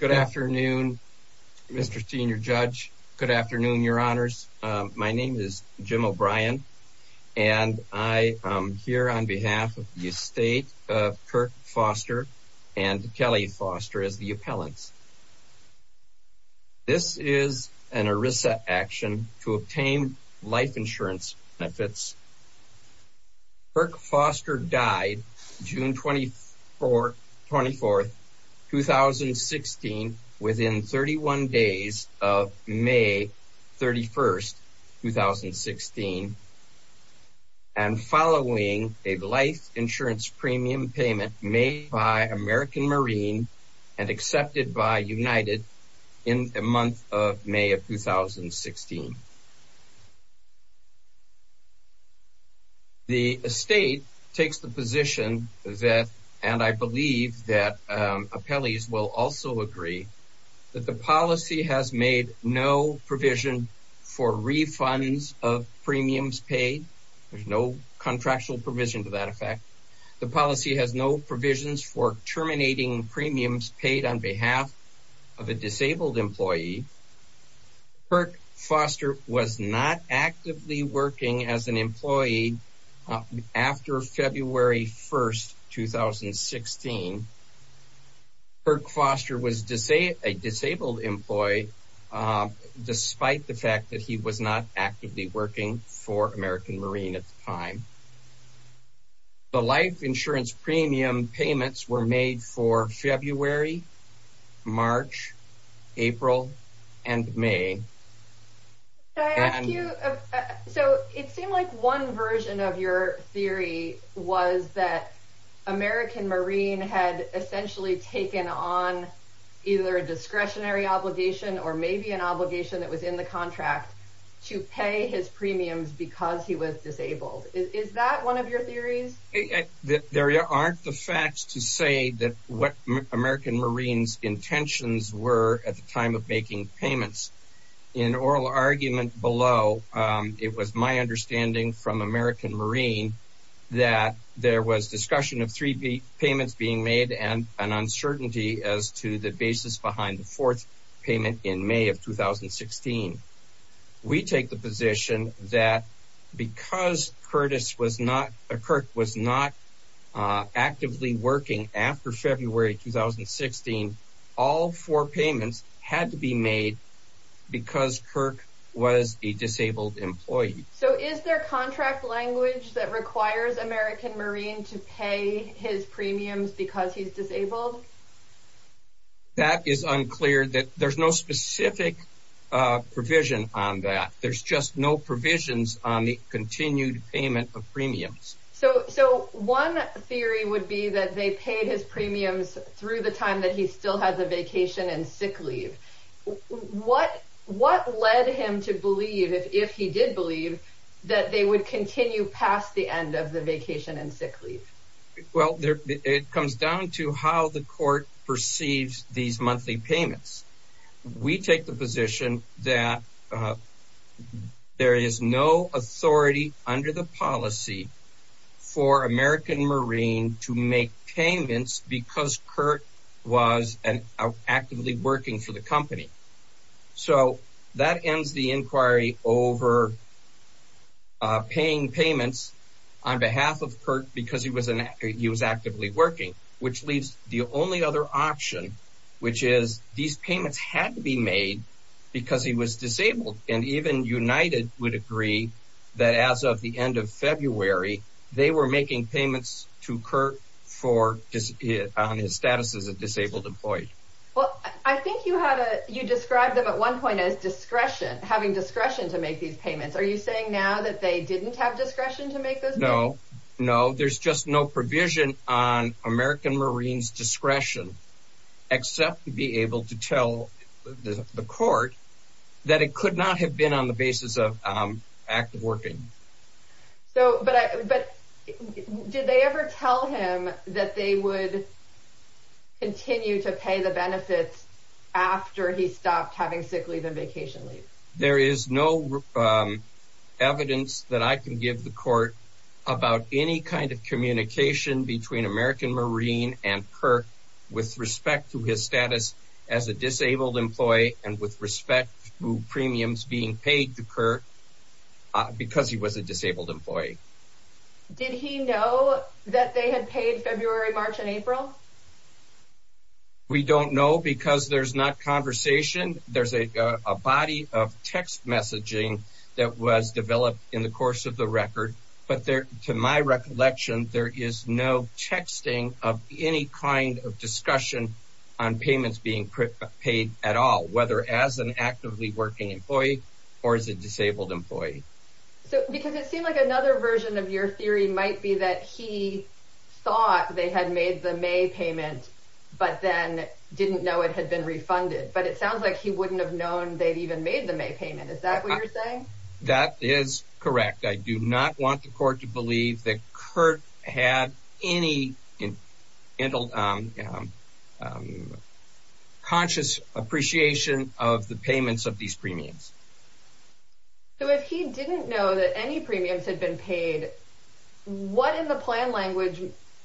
Good afternoon Mr. Senior Judge. Good afternoon your honors. My name is Jim O'Brien and I am here on behalf of the estate of Kirk Foster and Kelly Foster as the appellants. This is an ERISA action to obtain life insurance benefits. Kirk within 31 days of May 31st 2016 and following a life insurance premium payment made by American Marine and accepted by United in the month of May of 2016. The estate takes the position that and I believe that appellees will also agree that the policy has made no provision for refunds of premiums paid. There's no contractual provision to that effect. The policy has no provisions for terminating premiums paid on behalf of a disabled employee. Kirk Foster was not a disabled employee despite the fact that he was not actively working for American Marine at the time. The life insurance premium payments were made for February, March, April and May. So it seemed like one version of your theory was that American Marine had essentially taken on either a discretionary obligation or maybe an obligation that was in the contract to pay his premiums because he was disabled. Is that one of your theories? There aren't the facts to say that what American Marines intentions were at the time of making payments. In oral argument below it was my understanding from American Marine that there was discussion of three payments being made and an uncertainty as to the basis behind the fourth payment in May of 2016. We take the position that because Kirk was not actively working after February 2016, all four payments had to be made because Kirk was a disabled employee. So is there contract language that requires American Marine to pay his premiums because he's disabled? That is unclear. There's no specific provision on that. There's just no provisions on the continued payment of premiums. So one theory would be that they paid his premiums through the time that he still had the vacation and sick leave. What led him to believe, if he did believe, that they would continue past the end of the vacation and sick leave? Well, it comes down to how the court perceives these monthly payments. We take the position that there is no authority under the policy for American Marine to make payments because Kirk was actively working for the company. So that ends the inquiry over paying payments on behalf of Kirk because he was actively working. Which leaves the only other option, which is these payments had to be made because he was disabled. And even United would agree that as of the for his status as a disabled employee. Well, I think you had a, you described them at one point as discretion, having discretion to make these payments. Are you saying now that they didn't have discretion to make those payments? No, no. There's just no provision on American Marine's discretion except to be able to tell the court that it could not have been on the basis of active working. So, but did they ever tell him that they would continue to pay the benefits after he stopped having sick leave and vacation leave? There is no evidence that I can give the court about any kind of communication between American Marine and Kirk with respect to his status as a disabled employee and with respect to did he know that they had paid February, March and April? We don't know because there's not conversation. There's a body of text messaging that was developed in the course of the record. But there to my recollection, there is no texting of any kind of discussion on payments being paid at all, whether as an actively working employee or as a disabled employee. So, because it seemed like another version of your theory might be that he thought they had made the May payment, but then didn't know it had been refunded. But it sounds like he wouldn't have known they'd even made the May payment. Is that what you're saying? That is correct. I do not want the court to believe that Kirk had any, um, conscious appreciation of the if he didn't know that any premiums had been paid, what in the plan language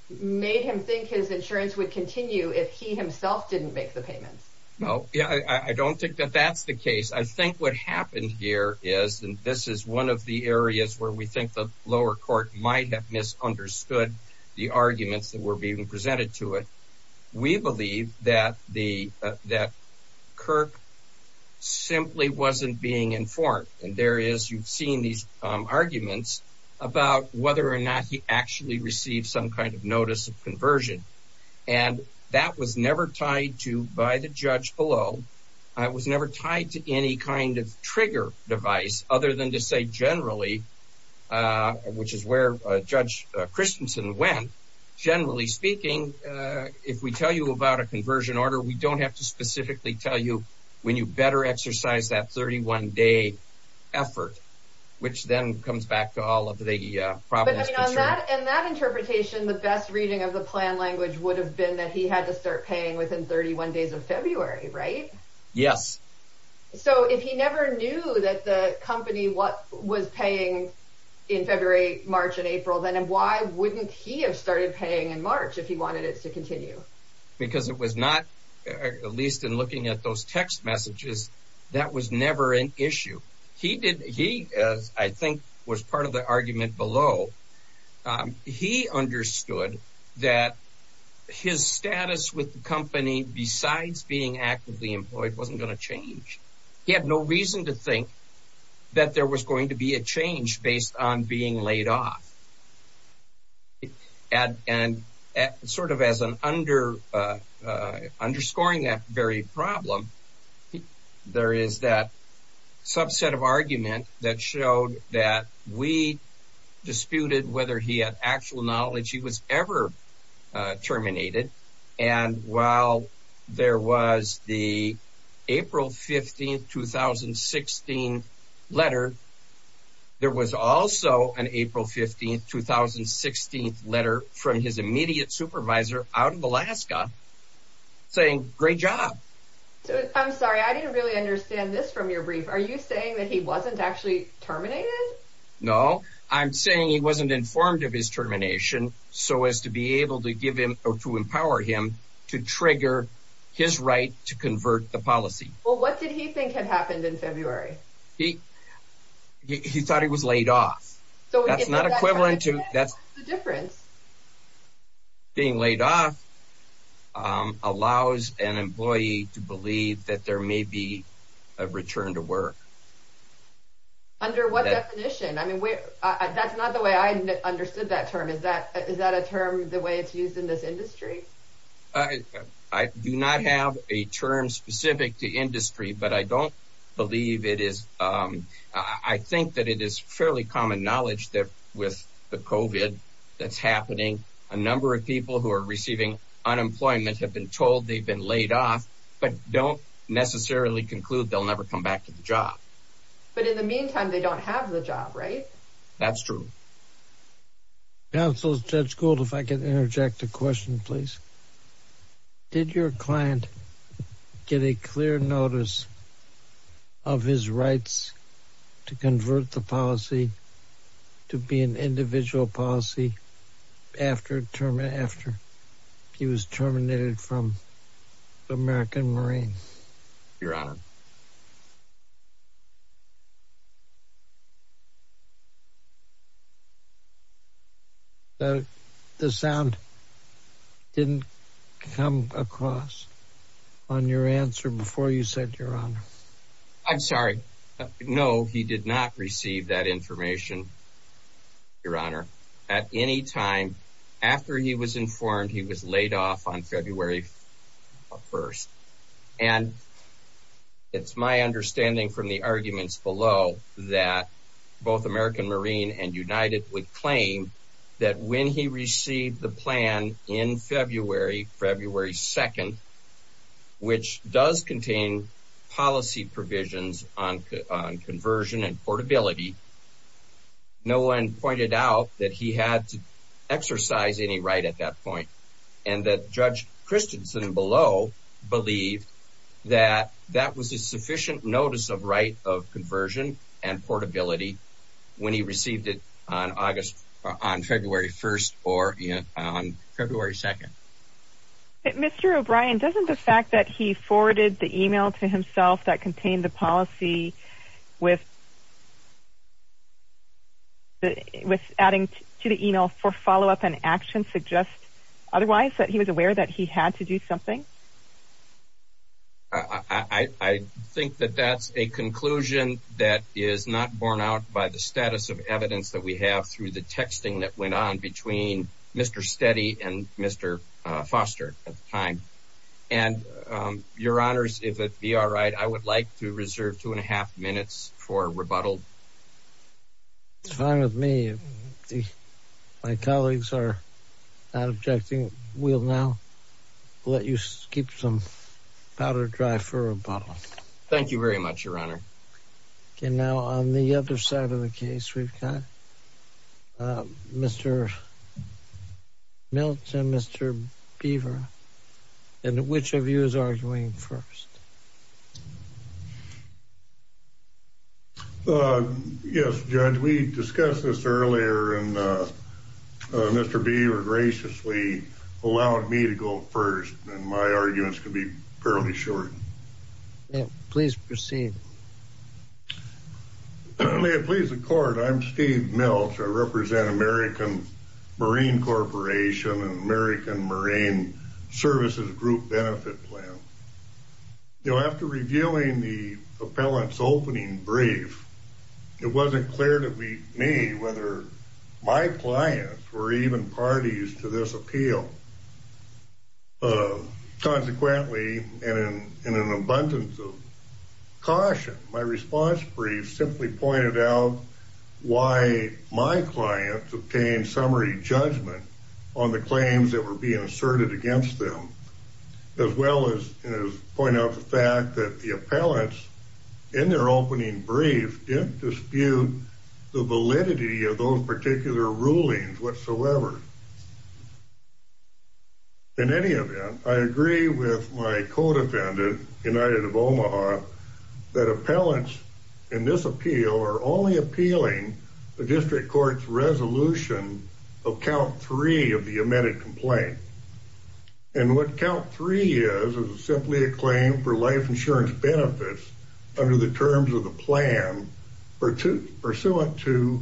made him think his insurance would continue if he himself didn't make the payments? No, I don't think that that's the case. I think what happened here is and this is one of the areas where we think the lower court might have misunderstood the arguments that were being presented to it. We believe that Kirk simply wasn't being informed. And there is, you've seen these arguments about whether or not he actually received some kind of notice of conversion. And that was never tied to by the judge below. I was never tied to any kind of trigger device other than to say, generally, which is where Judge Christensen went. Generally speaking, if we tell you about a conversion order, we don't have to specifically tell you when you better exercise that 31 day effort, which then comes back to all of the problems. And that interpretation, the best reading of the plan language would have been that he had to start paying within 31 days of February, right? Yes. So if he never knew that the company what was paying in February, March and April, then why wouldn't he have started paying in March if he wanted it to continue? Because it was not, at least in looking at those text messages, that was never an issue. He did. He, I think, was part of the argument below. He understood that his status with the company, besides being actively employed, wasn't going to change. He had no reason to think that there was going to be a change based on ad and sort of as an under underscoring that very problem. There is that subset of argument that showed that we disputed whether he had actual knowledge he was ever terminated. And while there was the April 15 2016 letter, there was also an 16th letter from his immediate supervisor out of Alaska saying, Great job. I'm sorry, I didn't really understand this from your brief. Are you saying that he wasn't actually terminated? No, I'm saying he wasn't informed of his termination. So as to be able to give him or to empower him to trigger his right to convert the policy. Well, what did he think had happened in the difference? Being laid off allows an employee to believe that there may be a return to work. Under what definition? I mean, wait, that's not the way I understood that term. Is that is that a term the way it's used in this industry? I do not have a term specific to industry, but I don't believe it is. I that's happening. A number of people who are receiving unemployment have been told they've been laid off, but don't necessarily conclude they'll never come back to the job. But in the meantime, they don't have the job, right? That's true. Council Judge Gould, if I could interject a question, please. Did your client get a clear notice of his rights to convert the policy to be an individual policy after term? After he was terminated from the American Marine? Your Honor. The sound didn't come across on your answer before you said you're on. I'm sorry. No, he did not receive that information. Your Honor, at any time after he was informed he was laid off on February 1st. And it's my understanding from the arguments below that both American Marine and United would claim that when he received the plan in February, February 2nd, which does contain policy provisions on conversion and portability, no one pointed out that he had to exercise any right at that point and that Judge Christensen below believed that that was a sufficient notice of right of conversion and portability when he received it on August on February 1st or on February 2nd. But Mr. O'Brien, doesn't the fact that he forwarded the email to himself that contained the policy with adding to the email for follow up and action suggest otherwise that he was aware that he had to do something? I think that that's a conclusion that is not borne out by the status of evidence that we have through the texting that went on between Mr. Steady and Mr. Foster at the time. And Your Honor, if it be all right, I would like to reserve 2.5 minutes for rebuttal. It's fine with me. My colleagues are not objecting. We'll now let you keep some powder dry for rebuttal. Thank you very much, Your Honor. Okay, now on the other side of the case, we've got Mr. Milton, Mr. Beaver. And which of you is arguing first? Yes, Judge, we discussed this earlier, and Mr. Beaver graciously allowed me to go first, and my arguments could be fairly short. Please proceed. May it please the Court, I'm Steve Milch. I represent American Marine Corporation and American Marine Services Group Benefit Plan. You know, after reviewing the appellant's opening brief, it wasn't clear to me whether my clients were even parties to this appeal. Consequently, and in an abundance of caution, my response brief simply pointed out why my clients obtained summary judgment on the claims that point out the fact that the appellants, in their opening brief, didn't dispute the validity of those particular rulings whatsoever. In any event, I agree with my co-defendant, United of Omaha, that appellants in this appeal are only appealing the district court's resolution of count three of the amended complaint. And what count three is, is simply a claim for life insurance benefits under the terms of the plan pursuant to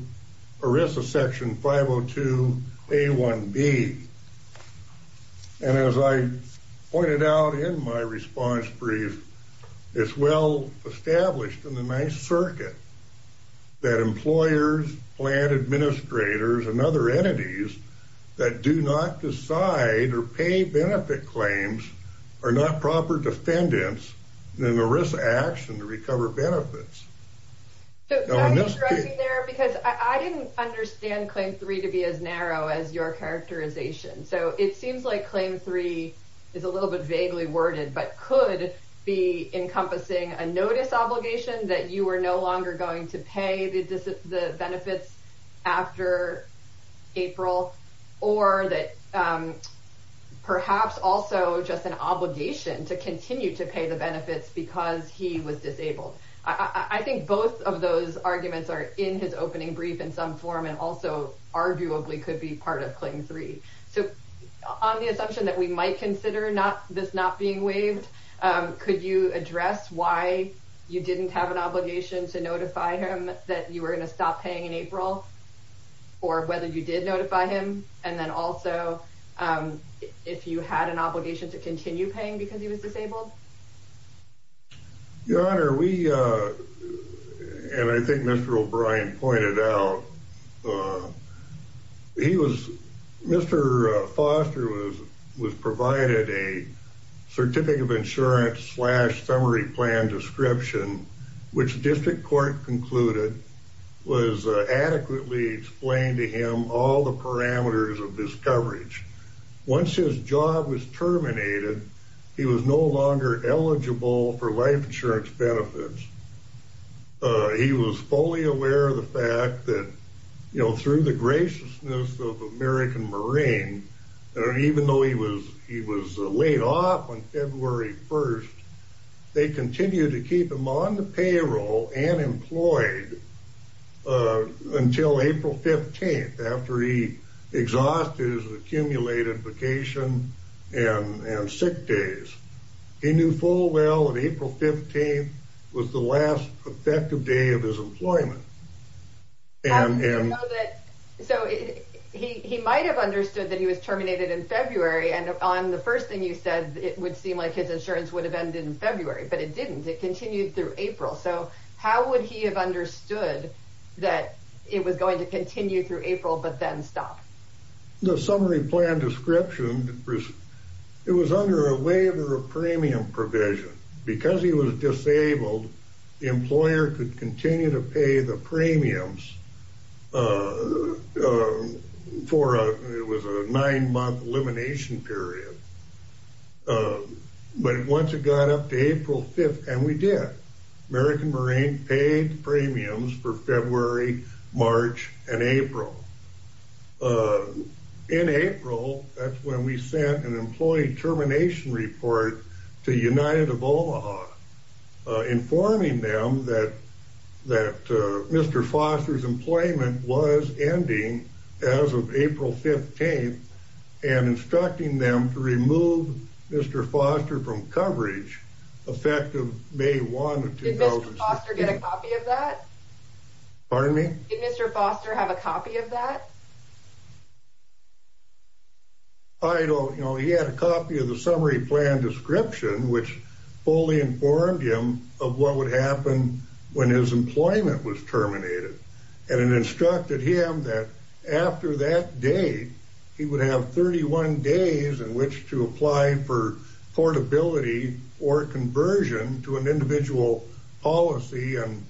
ERISA section 502A1B. And as I pointed out in my response brief, it's well established in the Ninth Circuit that employers, plant administrators, and other entities that do not decide or pay benefit claims are not proper defendants in an ERISA action to recover benefits. So, I'm interesting there because I didn't understand claim three to be as narrow as your characterization. So, it seems like claim three is a little bit vaguely worded, but could be encompassing a notice obligation that you are no longer going to pay the benefits after April, or that perhaps also just an obligation to continue to pay the benefits because he was disabled. I think both of those arguments are in his opening brief in some form and also arguably could be part of claim three. So, on the assumption that we might consider this not being waived, could you address why you didn't have an obligation to notify him that you were going to stop paying in April, or whether you did notify him? And then also, if you had an obligation to continue paying because he was disabled? Your Honor, we, and I think Mr. O'Brien pointed out, he was, Mr. Foster was provided a Certificate of Insurance slash Summary Plan Description, which was adequately explained to him all the parameters of this coverage. Once his job was terminated, he was no longer eligible for life insurance benefits. He was fully aware of the fact that, you know, through the graciousness of American Marine, even though he was laid off on February 1st, they continued to keep him on the payroll and employed until April 15th, after he exhausted his accumulated vacation and sick days. He knew full well that April 15th was the last effective day of his employment. I'm sure you know that, so he might have understood that he was terminated in February, and on the first thing you said, it would seem like his insurance would have ended in February, but it didn't. It continued through April. So how would he have understood that it was going to continue through April, but then stop? The Summary Plan Description, it was under a waiver of premium provision. Because he was disabled, the employer could continue to pay the premiums for a, it was a nine-month elimination period. But once it got up to April 5th, and we did, American Marine paid premiums for February, March, and April. In April, that's when we sent an employee termination report to United of Omaha, informing them that Mr. Foster's employment was ending as of April 15th, and instructing them to remove Mr. Foster from coverage effective May 1 of 2016. Did Mr. Foster get a copy of that? Pardon me? Did Mr. Foster have a copy of that? I don't know. He had a copy of the Summary Plan Description, which fully informed him of what would happen when his employment was terminated. And it instructed him that after that date, he would have 31 days in which to apply for portability or conversion to an individual policy. And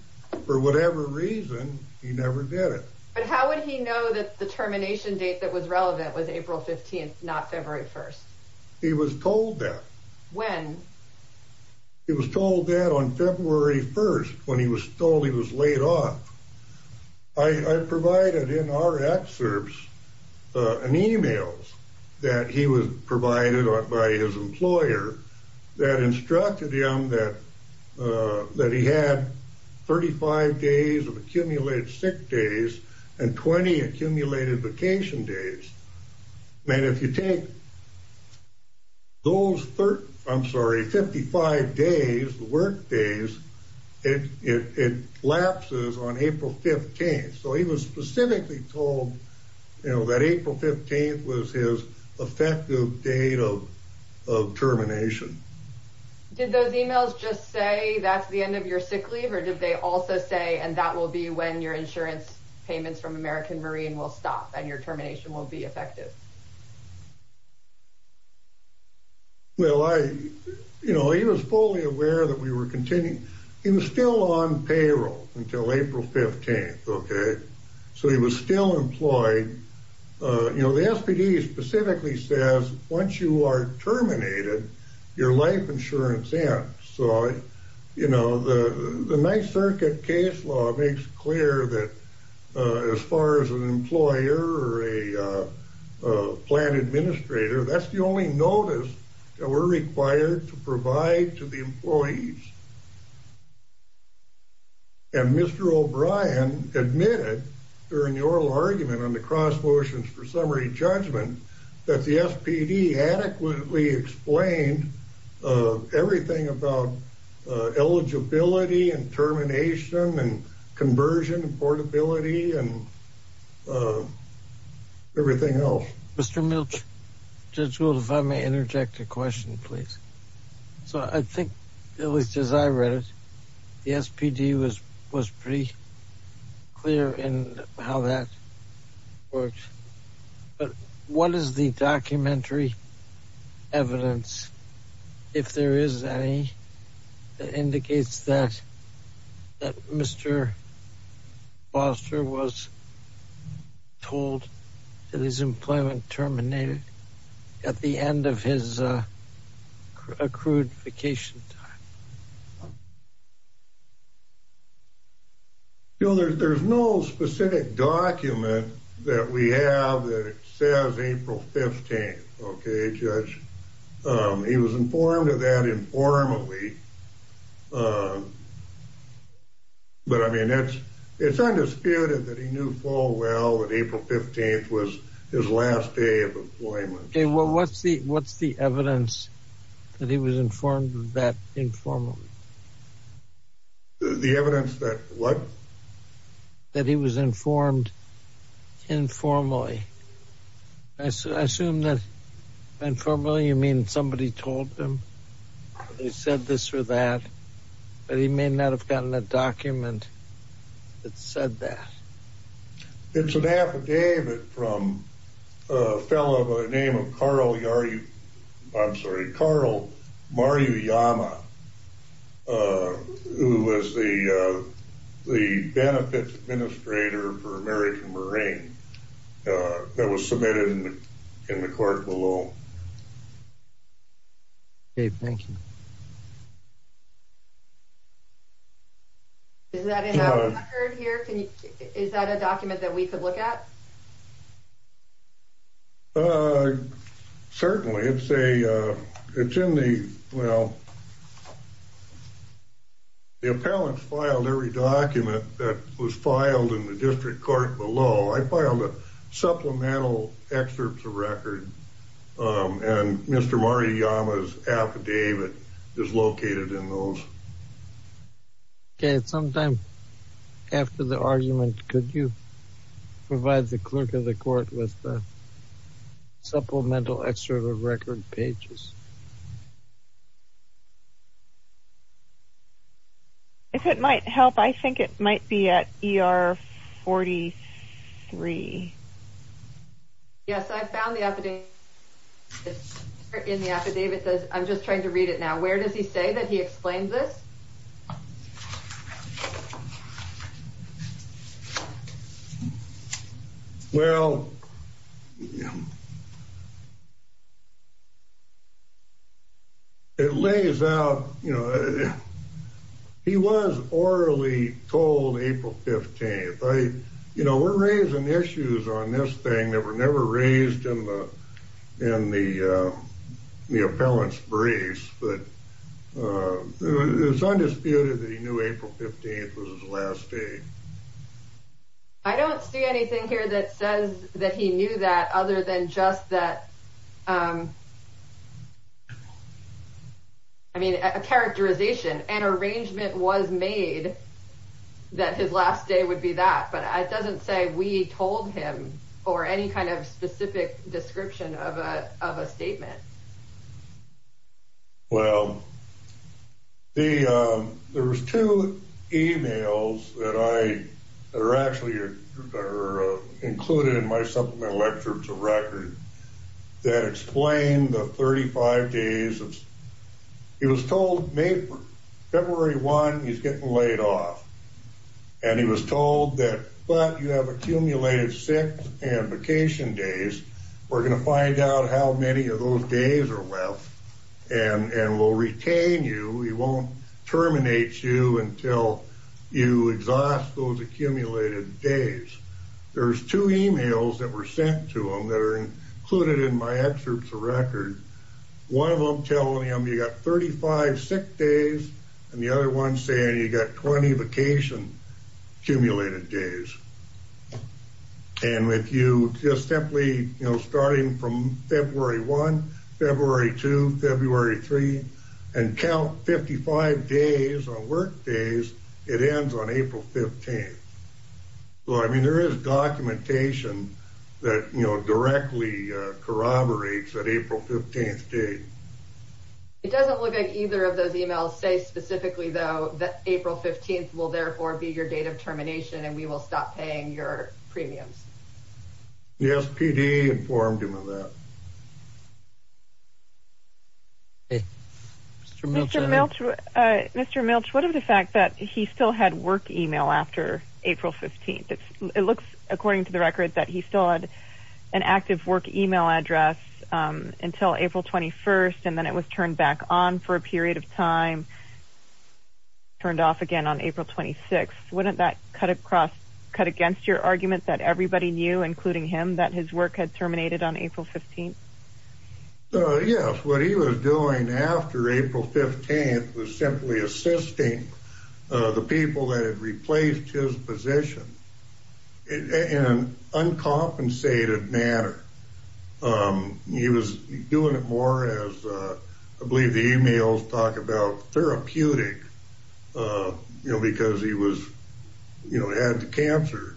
for whatever reason, he never did it. But how would he know that the termination date that was relevant was April 15th, not February 1st? He was told that. When? He was told that on February 1st, when he was told he was laid off. I provided in our excerpts, an email that he was provided by his employer that instructed him that that he had 35 days of accumulated sick days, and 20 accumulated vacation days. And if you take those 35, I'm sorry, 55 days, the work days, it lapses on April 15th. So he was specifically told, you know, that April 15th was his effective date of termination. Did those emails just say that's the end of your sick leave? Or did they also say and that will be when your insurance payments from American Marine will stop and your termination will be effective? Well, I, you know, he was fully aware that we were continuing. He was still on payroll until April 15th. Okay. So he was still employed. You know, the SPD specifically says once you are terminated, your life insurance ends. So it makes clear that as far as an employer or a plant administrator, that's the only notice that we're required to provide to the employees. And Mr. O'Brien admitted during the oral argument on the cross motions for summary judgment, that the SPD adequately explained everything about eligibility and termination and conversion and portability and everything else. Mr. Milch, Judge Gould, if I may interject a question, please. So I think at least as I read it, the SPD was pretty clear in how that works. But what is the documentary evidence, if there is any, that indicates that Mr. Foster was told that his employment terminated at the end of his accrued vacation time? There's no specific document that we have that says April 15th. Okay, Judge. He was informed of that informally. But I mean, it's, it's undisputed that he knew full well that April 15th was his last day of employment. Okay, well, what's the, what's the evidence that he was informed of that informally? The evidence that what? That he was informed informally. I assume that informally, you mean somebody told him, they said this or that, but he may not have gotten a document that said that. It's an affidavit from a fellow by the name of Carl, I'm sorry, Carl Maruyama, who was the benefits administrator for American Marine that was submitted in the court below. Okay, thank you. Is that in the record here? Can you, is that a document that we could look at? Certainly, it's a, it's in the, well, the appellant filed every document that was filed in the district court below. I filed a supplemental excerpt to record. And Mr. Maruyama's affidavit is located in those. Okay, at some time after the argument, could you provide the clerk of the court with the supplemental excerpt of record pages? If it might help, I think it might be at ER 43. Yes, I found the affidavit. It's in the affidavit. I'm just trying to read it now. Where does he say that he explained this? Well, it lays out, you know, he was orally told April 15th. You know, we're raising issues on this thing that were never raised in the appellant's briefs, but it's undisputed that he knew April 15th was his last day. I don't see anything here that says that he knew that other than just that, I mean, a characterization, an arrangement was made that his last day would be that, but it doesn't say we told him or any kind of specific description of a statement. Well, there was two emails that I, that are actually included in my supplemental excerpt to record that explained the 35 days of, he was told February 1, he's told that, but you have accumulated six and vacation days. We're going to find out how many of those days are left and, and we'll retain you. We won't terminate you until you exhaust those accumulated days. There's two emails that were sent to him that are included in my excerpts of record. One of them telling him you got 35 sick days and the other one saying you got 20 vacation accumulated days. And if you just simply, you know, starting from February 1, February 2, February 3, and count 55 days on work days, it ends on April 15th. Well, I mean, there is documentation that, you know, directly corroborates that April 15th day. It doesn't look like either of those emails say specifically though, that April 15th will therefore be your date of termination and we will stop paying your premiums. Yes, PD informed him of that. Mr. Miltch, Mr. Miltch, what of the fact that he still had work email after April 15th? It looks according to the record that he still had an active work email address until April 21st, and then it was turned back on for a period of time, turned off again on April 26. Wouldn't that cut across, cut against your argument that everybody knew, including him, that his work had terminated on April 15th? Yes, what he was doing after April 15th was simply assisting the people that had He was doing it more as, I believe the emails talk about therapeutic, you know, because he was, you know, had the cancer.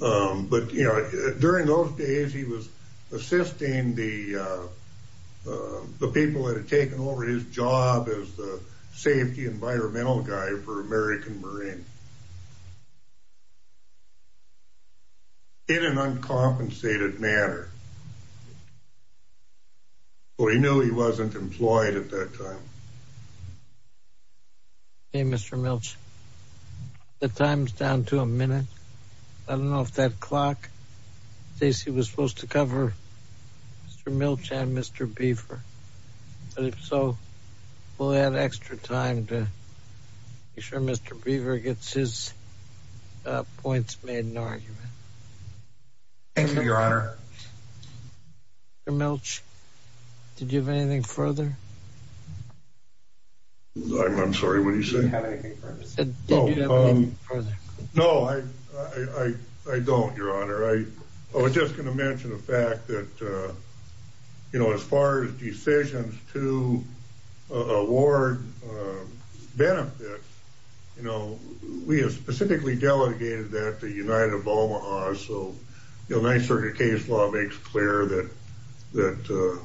But, you know, during those days, he was assisting the people that had taken over his job as the safety environmental guy for American Marine. In an uncompensated manner. Well, he knew he wasn't employed at that time. Hey, Mr. Miltch, the time's down to a minute. I don't know if that clock, Stacy, was supposed to cover Mr. Miltch and Mr. Beaver, but if so, we'll add extra time to be sure Mr. Beaver gets his points made in argument. Thank you, Your Honor. Mr. Miltch, did you have anything further? I'm sorry, what did you say? Did you have anything further? No, I don't, Your Honor. I was just going to mention the fact that, you know, as far as decisions to award benefits, you know, we have specifically delegated that to United of Omaha, so the United Circuit case law makes clear that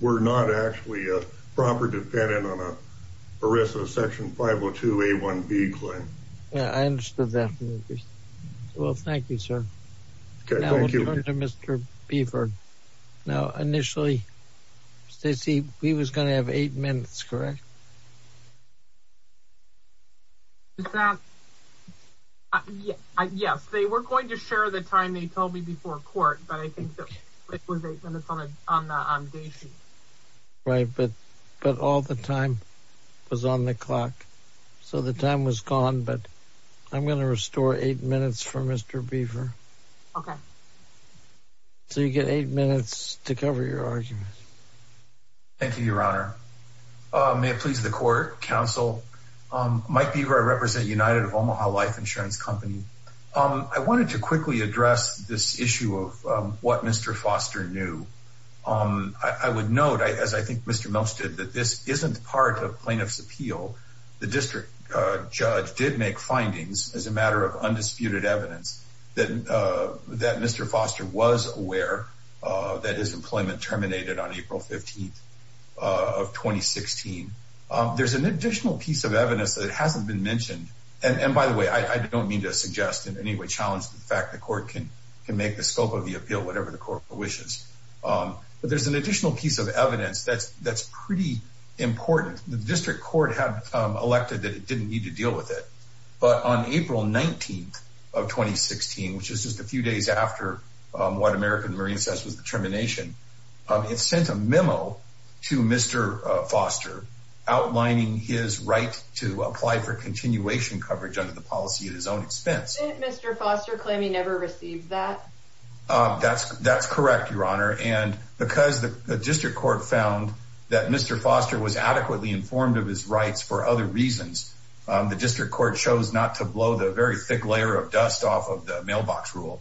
we're not actually a proper defendant on a risk of Section 502A1B claim. Yeah, I understood that, Miltch. Well, thank you, sir. Okay, thank you. Back to Mr. Beaver. Now, initially, Stacy, he was going to have eight minutes, correct? Is that? Yes, they were going to share the time they told me before court, but I think that it was eight minutes on the day sheet. Right, but all the time was on the clock, so the time was gone, but I'm going to restore eight minutes for Mr. Beaver. Okay. So you get eight minutes to cover your argument. Thank you, Your Honor. May it please the court, counsel, Mike Beaver, I represent United of Omaha Life Insurance Company. I wanted to quickly address this issue of what Mr. Foster knew. I would note, as I think Mr. Miltch did, that this isn't part of Plaintiff's Appeal. The district judge did make findings as a matter of undisputed evidence that Mr. Foster was aware that his employment terminated on April 15th of 2016. There's an additional piece of evidence that hasn't been mentioned, and by the way, I don't mean to suggest in any way challenge the fact the court can make the scope of the appeal, whatever the court wishes, but there's an additional piece of evidence that's pretty important. The district court had elected that it didn't need to deal with it, but on April 19th of 2016, which is just a few days after what American Marine says was the termination, it sent a memo to Mr. Foster outlining his right to apply for continuation coverage under the policy at his own expense. Didn't Mr. Foster claim he never received that? That's correct, Your Honor, and because the district court found that Mr. Foster was adequately informed of his rights for other reasons, the district court chose not to blow the very thick layer of dust off of the mailbox rule,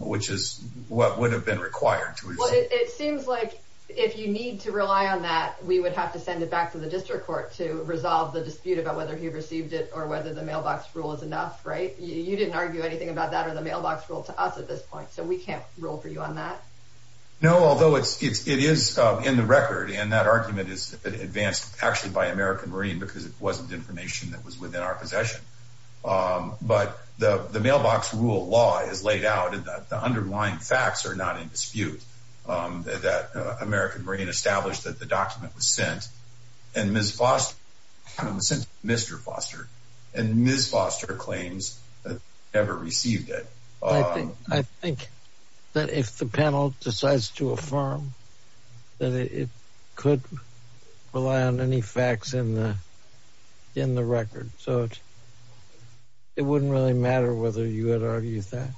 which is what would have been required. It seems like if you need to rely on that, we would have to send it back to the district court to resolve the dispute about whether he received it or whether the mailbox rule is enough, right? You didn't argue anything about that or the mailbox rule to us at this point, so we can't rule for you on that. No, although it is in the record, and that argument is advanced actually by our possession, but the mailbox rule law is laid out in that the underlying facts are not in dispute that American Marine established that the document was sent and Ms. Foster sent it to Mr. Foster, and Ms. Foster claims that she never received it. I think that if the panel decides to affirm that it could rely on any facts in the record, so it wouldn't really matter whether you had argued that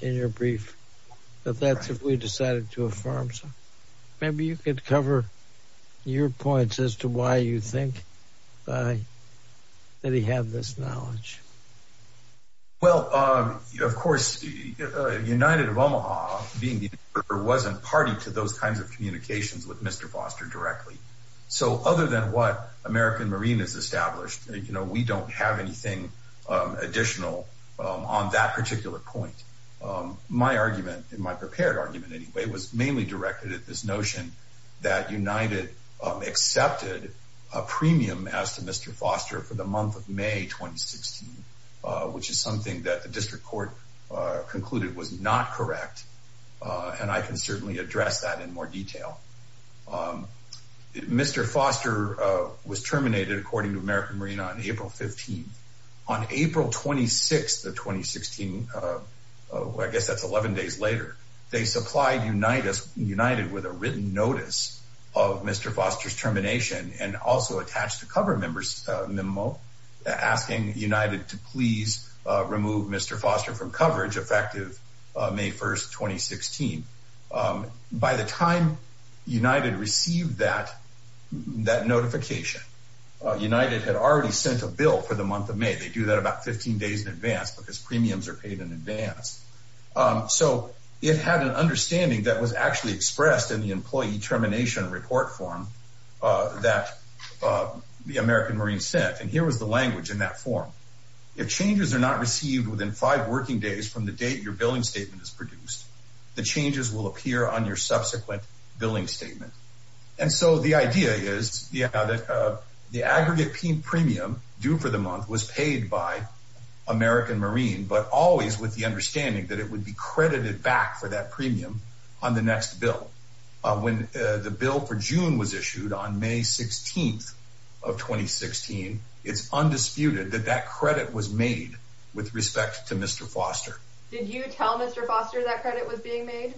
in your brief, but that's if we decided to affirm, so maybe you could cover your points as to why you think that he had this knowledge. Well, of course, United of Omaha being the interpreter wasn't party to those kinds of communications with Mr. Foster directly. So other than what American Marine has established, you know, we don't have anything additional on that particular point. My argument in my prepared argument anyway, was mainly directed at this notion that United accepted a premium as to Mr. Foster for the month of May, 2016, which is something that the district court concluded was not correct, and I can certainly address that in more detail. Mr. Foster was terminated according to American Marine on April 15th. On April 26th of 2016, I guess that's 11 days later, they supplied United with a written notice of Mr. Foster's termination and also attached a cover memo asking United to please remove Mr. Foster from coverage effective May 1st, 2016. By the time United received that notification, United had already sent a bill for the month of May. They do that about 15 days in advance because premiums are paid in advance. So it had an understanding that was actually expressed in the employee termination report form that the American Marine sent. And here was the language in that form. If changes are not received within five working days from the date your billing statement is produced, the changes will appear on your subsequent billing statement. And so the idea is, yeah, that the aggregate premium due for the month was paid by American Marine, but always with the understanding that it would be credited back for that premium on the next bill. When the bill for June was issued on May 16th of 2016, it's undisputed that that credit was made with respect to Mr. Foster. Did you tell Mr. Foster that credit was being made?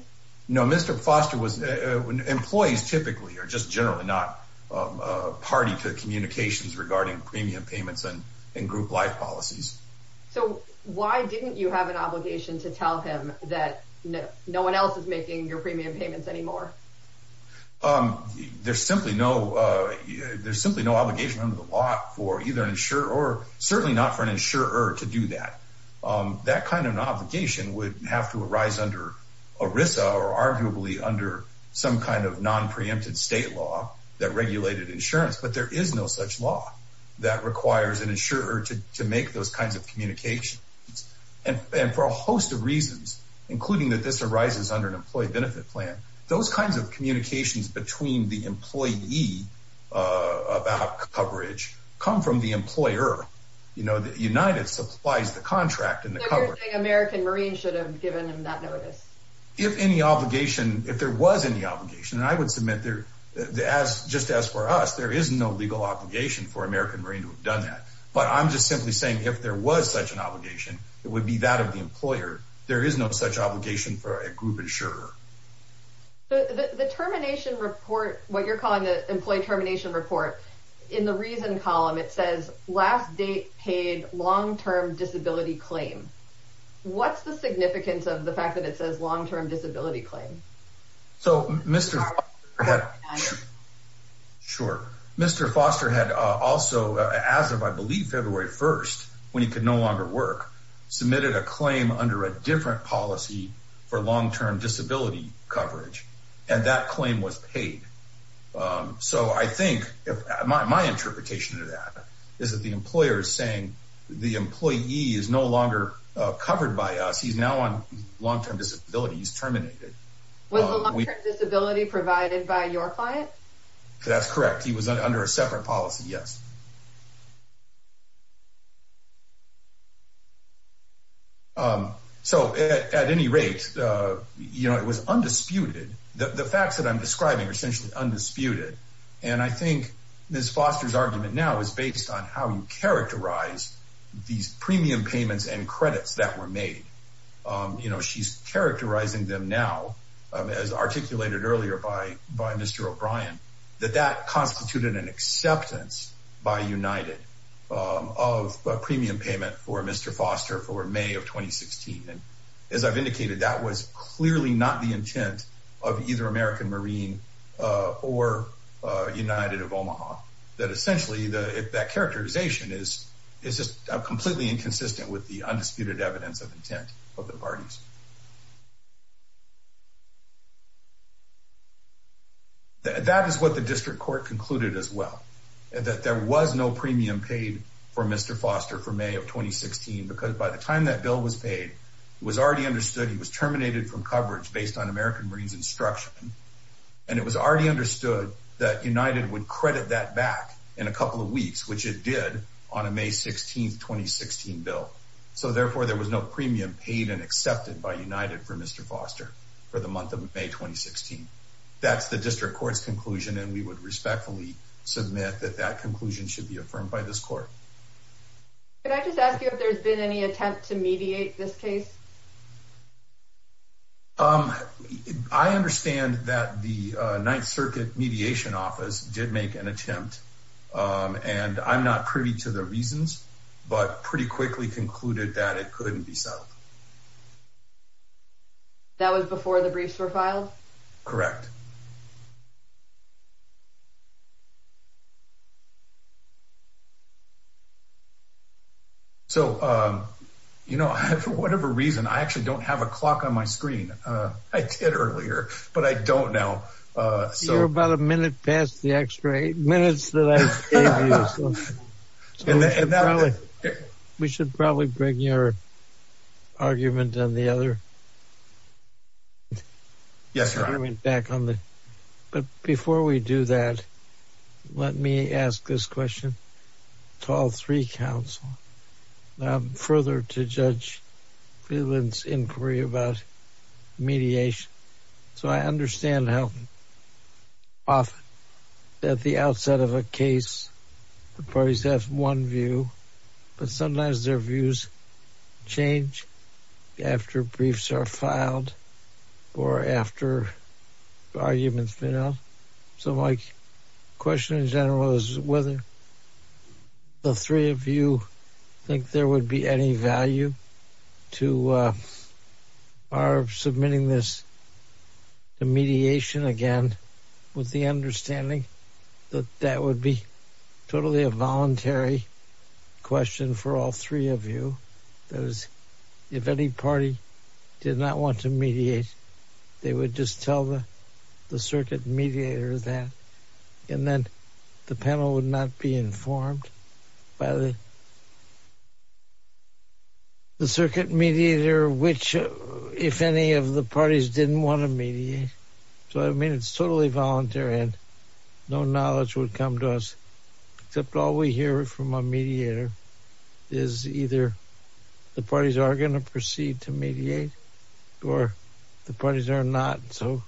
No, Mr. Foster was when employees typically are just generally not party to communications regarding premium payments and group life policies. So why didn't you have an obligation to tell him that no one else is making your premium payments anymore? There's simply no there's simply no obligation under the law for either an insurer or certainly not for an insurer to do that. That kind of an obligation would have to arise under ERISA or arguably under some kind of non preempted state law that regulated insurance. But there is no such law that requires an insurer to make those kinds of communications. And for a host of reasons, including that this arises under an employee benefit plan, those kinds of communications between the employee about coverage come from the employer. You know, the United Supplies, the contract and the American Marines should have given him that notice if any obligation, if there was any obligation. And I would submit there as just as for us, there is no legal obligation for American Marines who have done that. But I'm just simply saying if there was such an obligation, it would be that of the employer. There is no such obligation for a group insurer. But the termination report, what you're calling the employee termination report in the reason column, it says last date paid long term disability claim. What's the significance of the fact that it says long term disability claim? So, Mr. Sure. Foster had also, as of, I believe, February 1st, when he could no longer work, submitted a claim under a different policy for long term disability coverage. And that claim was paid. So, I think my interpretation of that is that the employer is saying the employee is no longer covered by us. He's now on long term disability. He's terminated. Was the long term disability provided by your client? That's correct. He was under a separate policy. Yes. So, at any rate, you know, it was undisputed. The facts that I'm describing are essentially undisputed. And I think Ms. Foster's argument now is based on how you characterize these premium payments and credits that were made. You know, she's characterizing them now, as articulated earlier by Mr. O'Brien, that that constituted an acceptance by United of a premium payment for Mr. Foster for May of 2016. As I've indicated, that was clearly not the intent of either American Marine or United of Omaha. That essentially, that characterization is just completely inconsistent with the undisputed evidence of intent of the parties. That is what the district court concluded as well, that there was no premium paid for Mr. Foster for the month of May 2016. That bill was paid. It was already understood he was terminated from coverage based on American Marines instruction. And it was already understood that United would credit that back in a couple of weeks, which it did on a May 16, 2016 bill. So, therefore, there was no premium paid and accepted by United for Mr. Foster for the month of May 2016. That's the district court's conclusion, and we would respectfully submit that that conclusion should be affirmed by this court. Could I just ask you if there's been any attempt to mediate this case? I understand that the Ninth Circuit Mediation Office did make an attempt, and I'm not privy to the reasons, but pretty quickly concluded that it couldn't be settled. That was before the briefs were filed? Correct. So, you know, for whatever reason, I actually don't have a clock on my screen. I did earlier, but I don't know. So you're about a minute past the extra eight minutes that I gave you, so we should probably bring your argument on the other argument back on the... to all three counsel. Now, I'm further to Judge Friedland's inquiry about mediation. So I understand how often at the outset of a case, the parties have one view, but sometimes their views change after briefs are filed or after arguments have been held. So my question in general is whether the three of you think there would be any value to our submitting this to mediation again, with the understanding that that would be totally a voluntary question for all three of you. That is, if any party did not want to mediate, they would just tell the circuit mediator that, and then the panel would not be informed by the... the circuit mediator, which, if any of the parties didn't want to mediate. So, I mean, it's totally voluntary and no knowledge would come to us, except all we hear from a mediator is either the parties are going to proceed to mediate or the parties are going to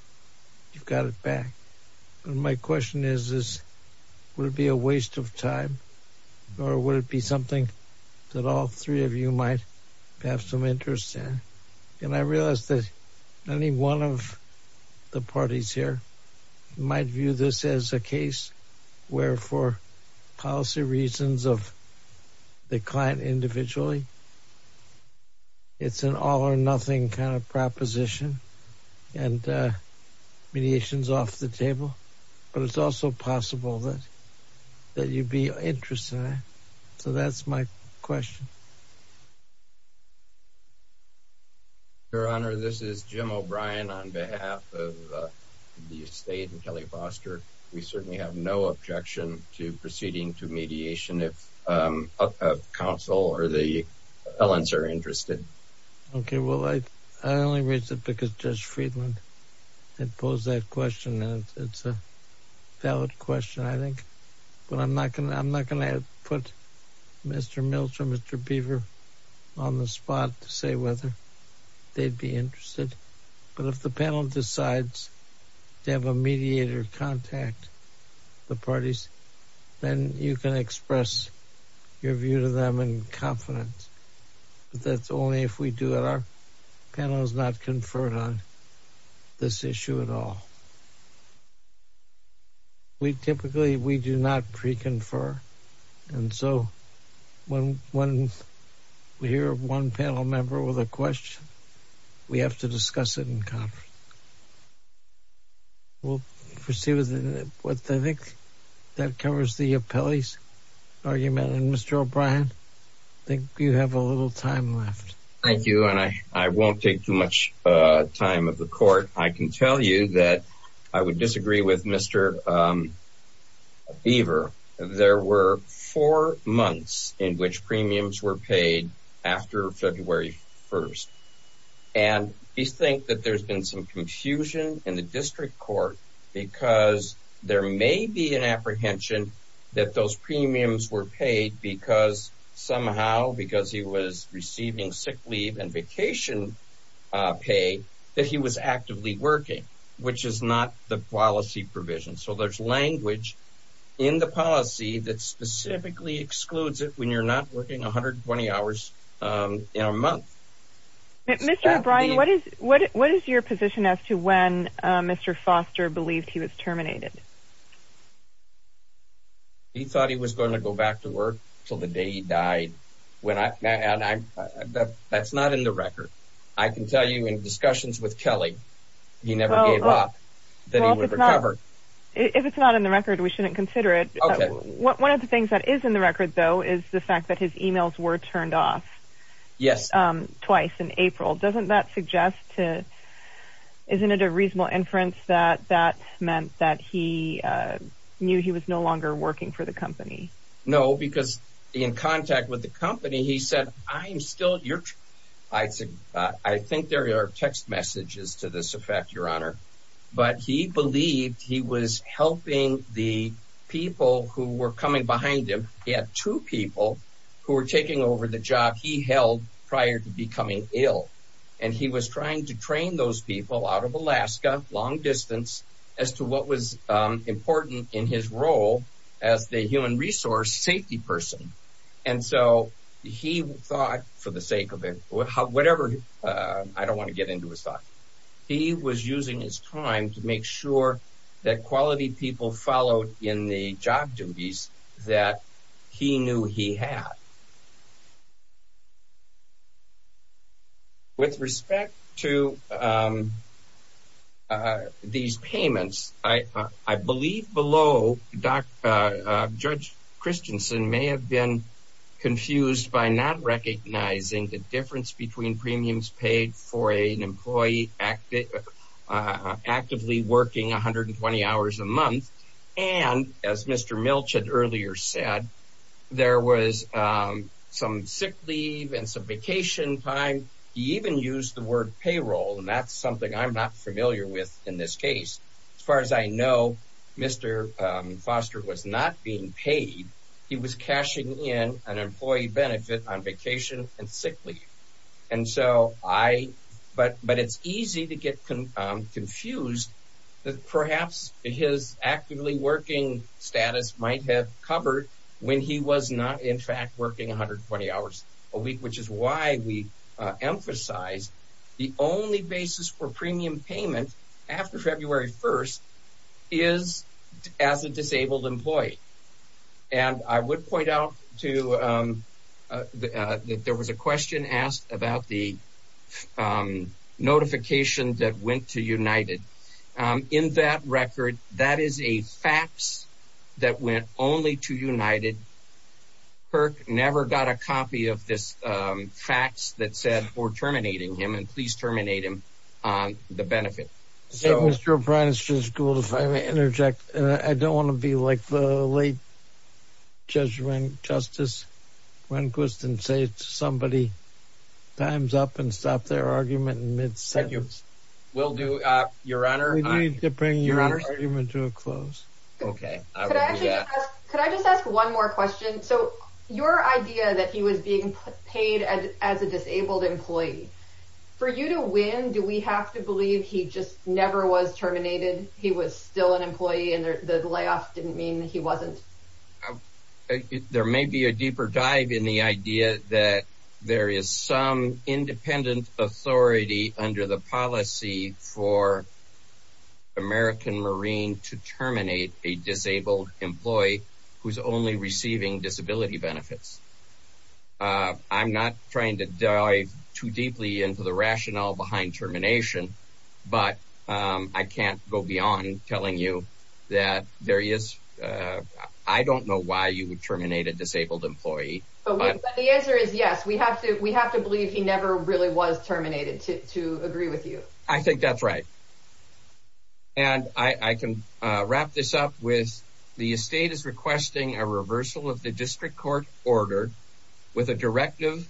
step back. And my question is, would it be a waste of time or would it be something that all three of you might have some interest in? And I realized that any one of the parties here might view this as a case where for policy reasons of the client individually, it's an all or nothing kind of proposition. And mediation's off the table, but it's also possible that you'd be interested in it. So that's my question. Your Honor, this is Jim O'Brien on behalf of the estate and Kelly Foster. We certainly have no objection to proceeding to mediation if counsel or the elements are interested. Okay. I only raised it because Judge Friedland had posed that question and it's a valid question, I think. But I'm not going to put Mr. Mills or Mr. Beaver on the spot to say whether they'd be interested. But if the panel decides to have a mediator contact the parties, then you can express your view to them in confidence. But that's only if we do it. Our panel has not conferred on this issue at all. We typically, we do not pre-confer. And so when we hear one panel member with a question, we have to discuss it in conference. We'll proceed with what I think that covers the appellee's argument. Mr. O'Brien, I think you have a little time left. Thank you. And I won't take too much time of the court. I can tell you that I would disagree with Mr. Beaver. There were four months in which premiums were paid after February 1st. And you think that there's been some confusion in the district court because there may be an apprehension that those premiums were paid because somehow, because he was receiving sick leave and vacation pay, that he was actively working, which is not the policy provision. So there's language in the policy that specifically excludes it when you're not working 120 hours in a month. Mr. O'Brien, what is your position as to when Mr. Beaver was terminated? He thought he was going to go back to work till the day he died. When I, that's not in the record. I can tell you in discussions with Kelly, he never gave up that he would recover. If it's not in the record, we shouldn't consider it. One of the things that is in the record though, is the fact that his emails were turned off twice in April. Doesn't that suggest to, isn't it a reasonable inference that that meant that he knew he was no longer working for the company? No, because in contact with the company, he said, I'm still your, I think there are text messages to this effect, your honor, but he believed he was helping the people who were coming behind him. He had two people who were taking over the job he held prior to becoming ill. And he was trying to train those people out of Alaska, long distance as to what was important in his role as the human resource safety person. And so he thought for the sake of it, whatever, I don't want to get into his thought, he was using his time to make sure that quality people followed in the job duties that he knew he had. With respect to, um, uh, these payments, I, uh, I believe below doc, uh, uh, judge Christensen may have been confused by not recognizing the difference between premiums paid for a, an employee active, uh, actively working 120 hours a month. And as Mr. Milch had earlier said, there was, uh, a, a, a, a, a, a, a, a, a, a, a, a, a, a, a, some sick leave and some vacation time. He even used the word payroll and that's something I'm not familiar with in this case, as far as I know, Mr. Um, Foster was not being paid. He was cashing in an employee benefit on vacation and sick leave. And so I, but, but it's easy to get confused that perhaps his actively working status might have covered when he was not in fact working 120 hours a week, which is why we emphasize the only basis for premium payment after February 1st is as a disabled employee. And I would point out to, um, uh, that there was a question asked about the, um, notification that went to United. Um, in that record, that is a fax that went only to United. Kirk never got a copy of this, um, facts that said we're terminating him and please terminate him on the benefit. So Mr. Prentice is cool. If I may interject, I don't want to be like the late judgment justice when Quiston say to somebody times up and stop their argument in mid sentence. We'll do your honor to bring your argument to a close. Okay. Could I just ask one more question? So your idea that he was being paid as a disabled employee for you to win, do we have to believe he just never was terminated? He was still an employee and the layoff didn't mean that he wasn't. There may be a deeper dive in the idea that there is some independent authority under the policy for American Marine to terminate a disabled employee who's only receiving disability benefits. Uh, I'm not trying to dive too deeply into the rationale behind termination, but, um, I can't go beyond telling you that there is, uh, I don't know why you would terminate a disabled employee, but the answer is yes, we have to, we have to believe he never really was terminated to, to agree with you. I think that's right. And I can wrap this up with the estate is requesting a reversal of the district court order with a directive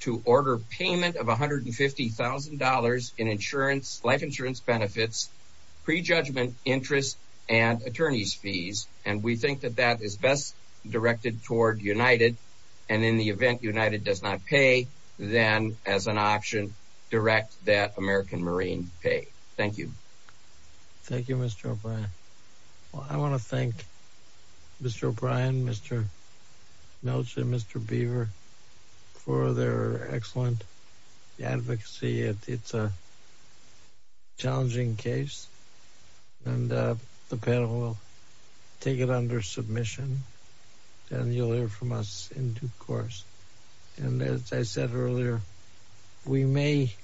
to order payment of $150,000 in insurance, life insurance, benefits, prejudgment, interest, and attorney's fees. And we think that that is best directed toward United. And in the event United does not pay, then as an option direct that American Marine pay. Thank you. Thank you, Mr. O'Brien. Well, I want to thank Mr. O'Brien, Mr. Melchor, Mr. Beaver for their excellent advocacy. It's a challenging case and, uh, the panel will take it under submission and you'll hear from us in due course. And as I said earlier, we may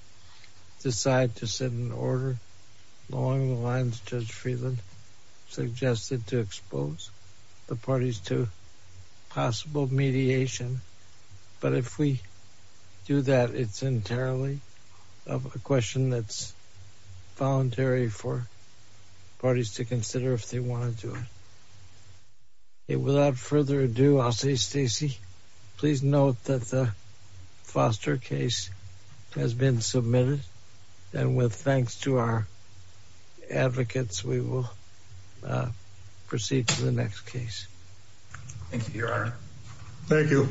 decide to send an order along the lines Judge Friedland suggested to expose the parties to possible mediation. But if we do that, it's entirely a question that's voluntary for parties to consider if they want to do it. And without further ado, I'll say, Stacey, please note that the Foster case has been submitted. And with thanks to our advocates, we will proceed to the next case. Thank you, Your Honor. Thank you.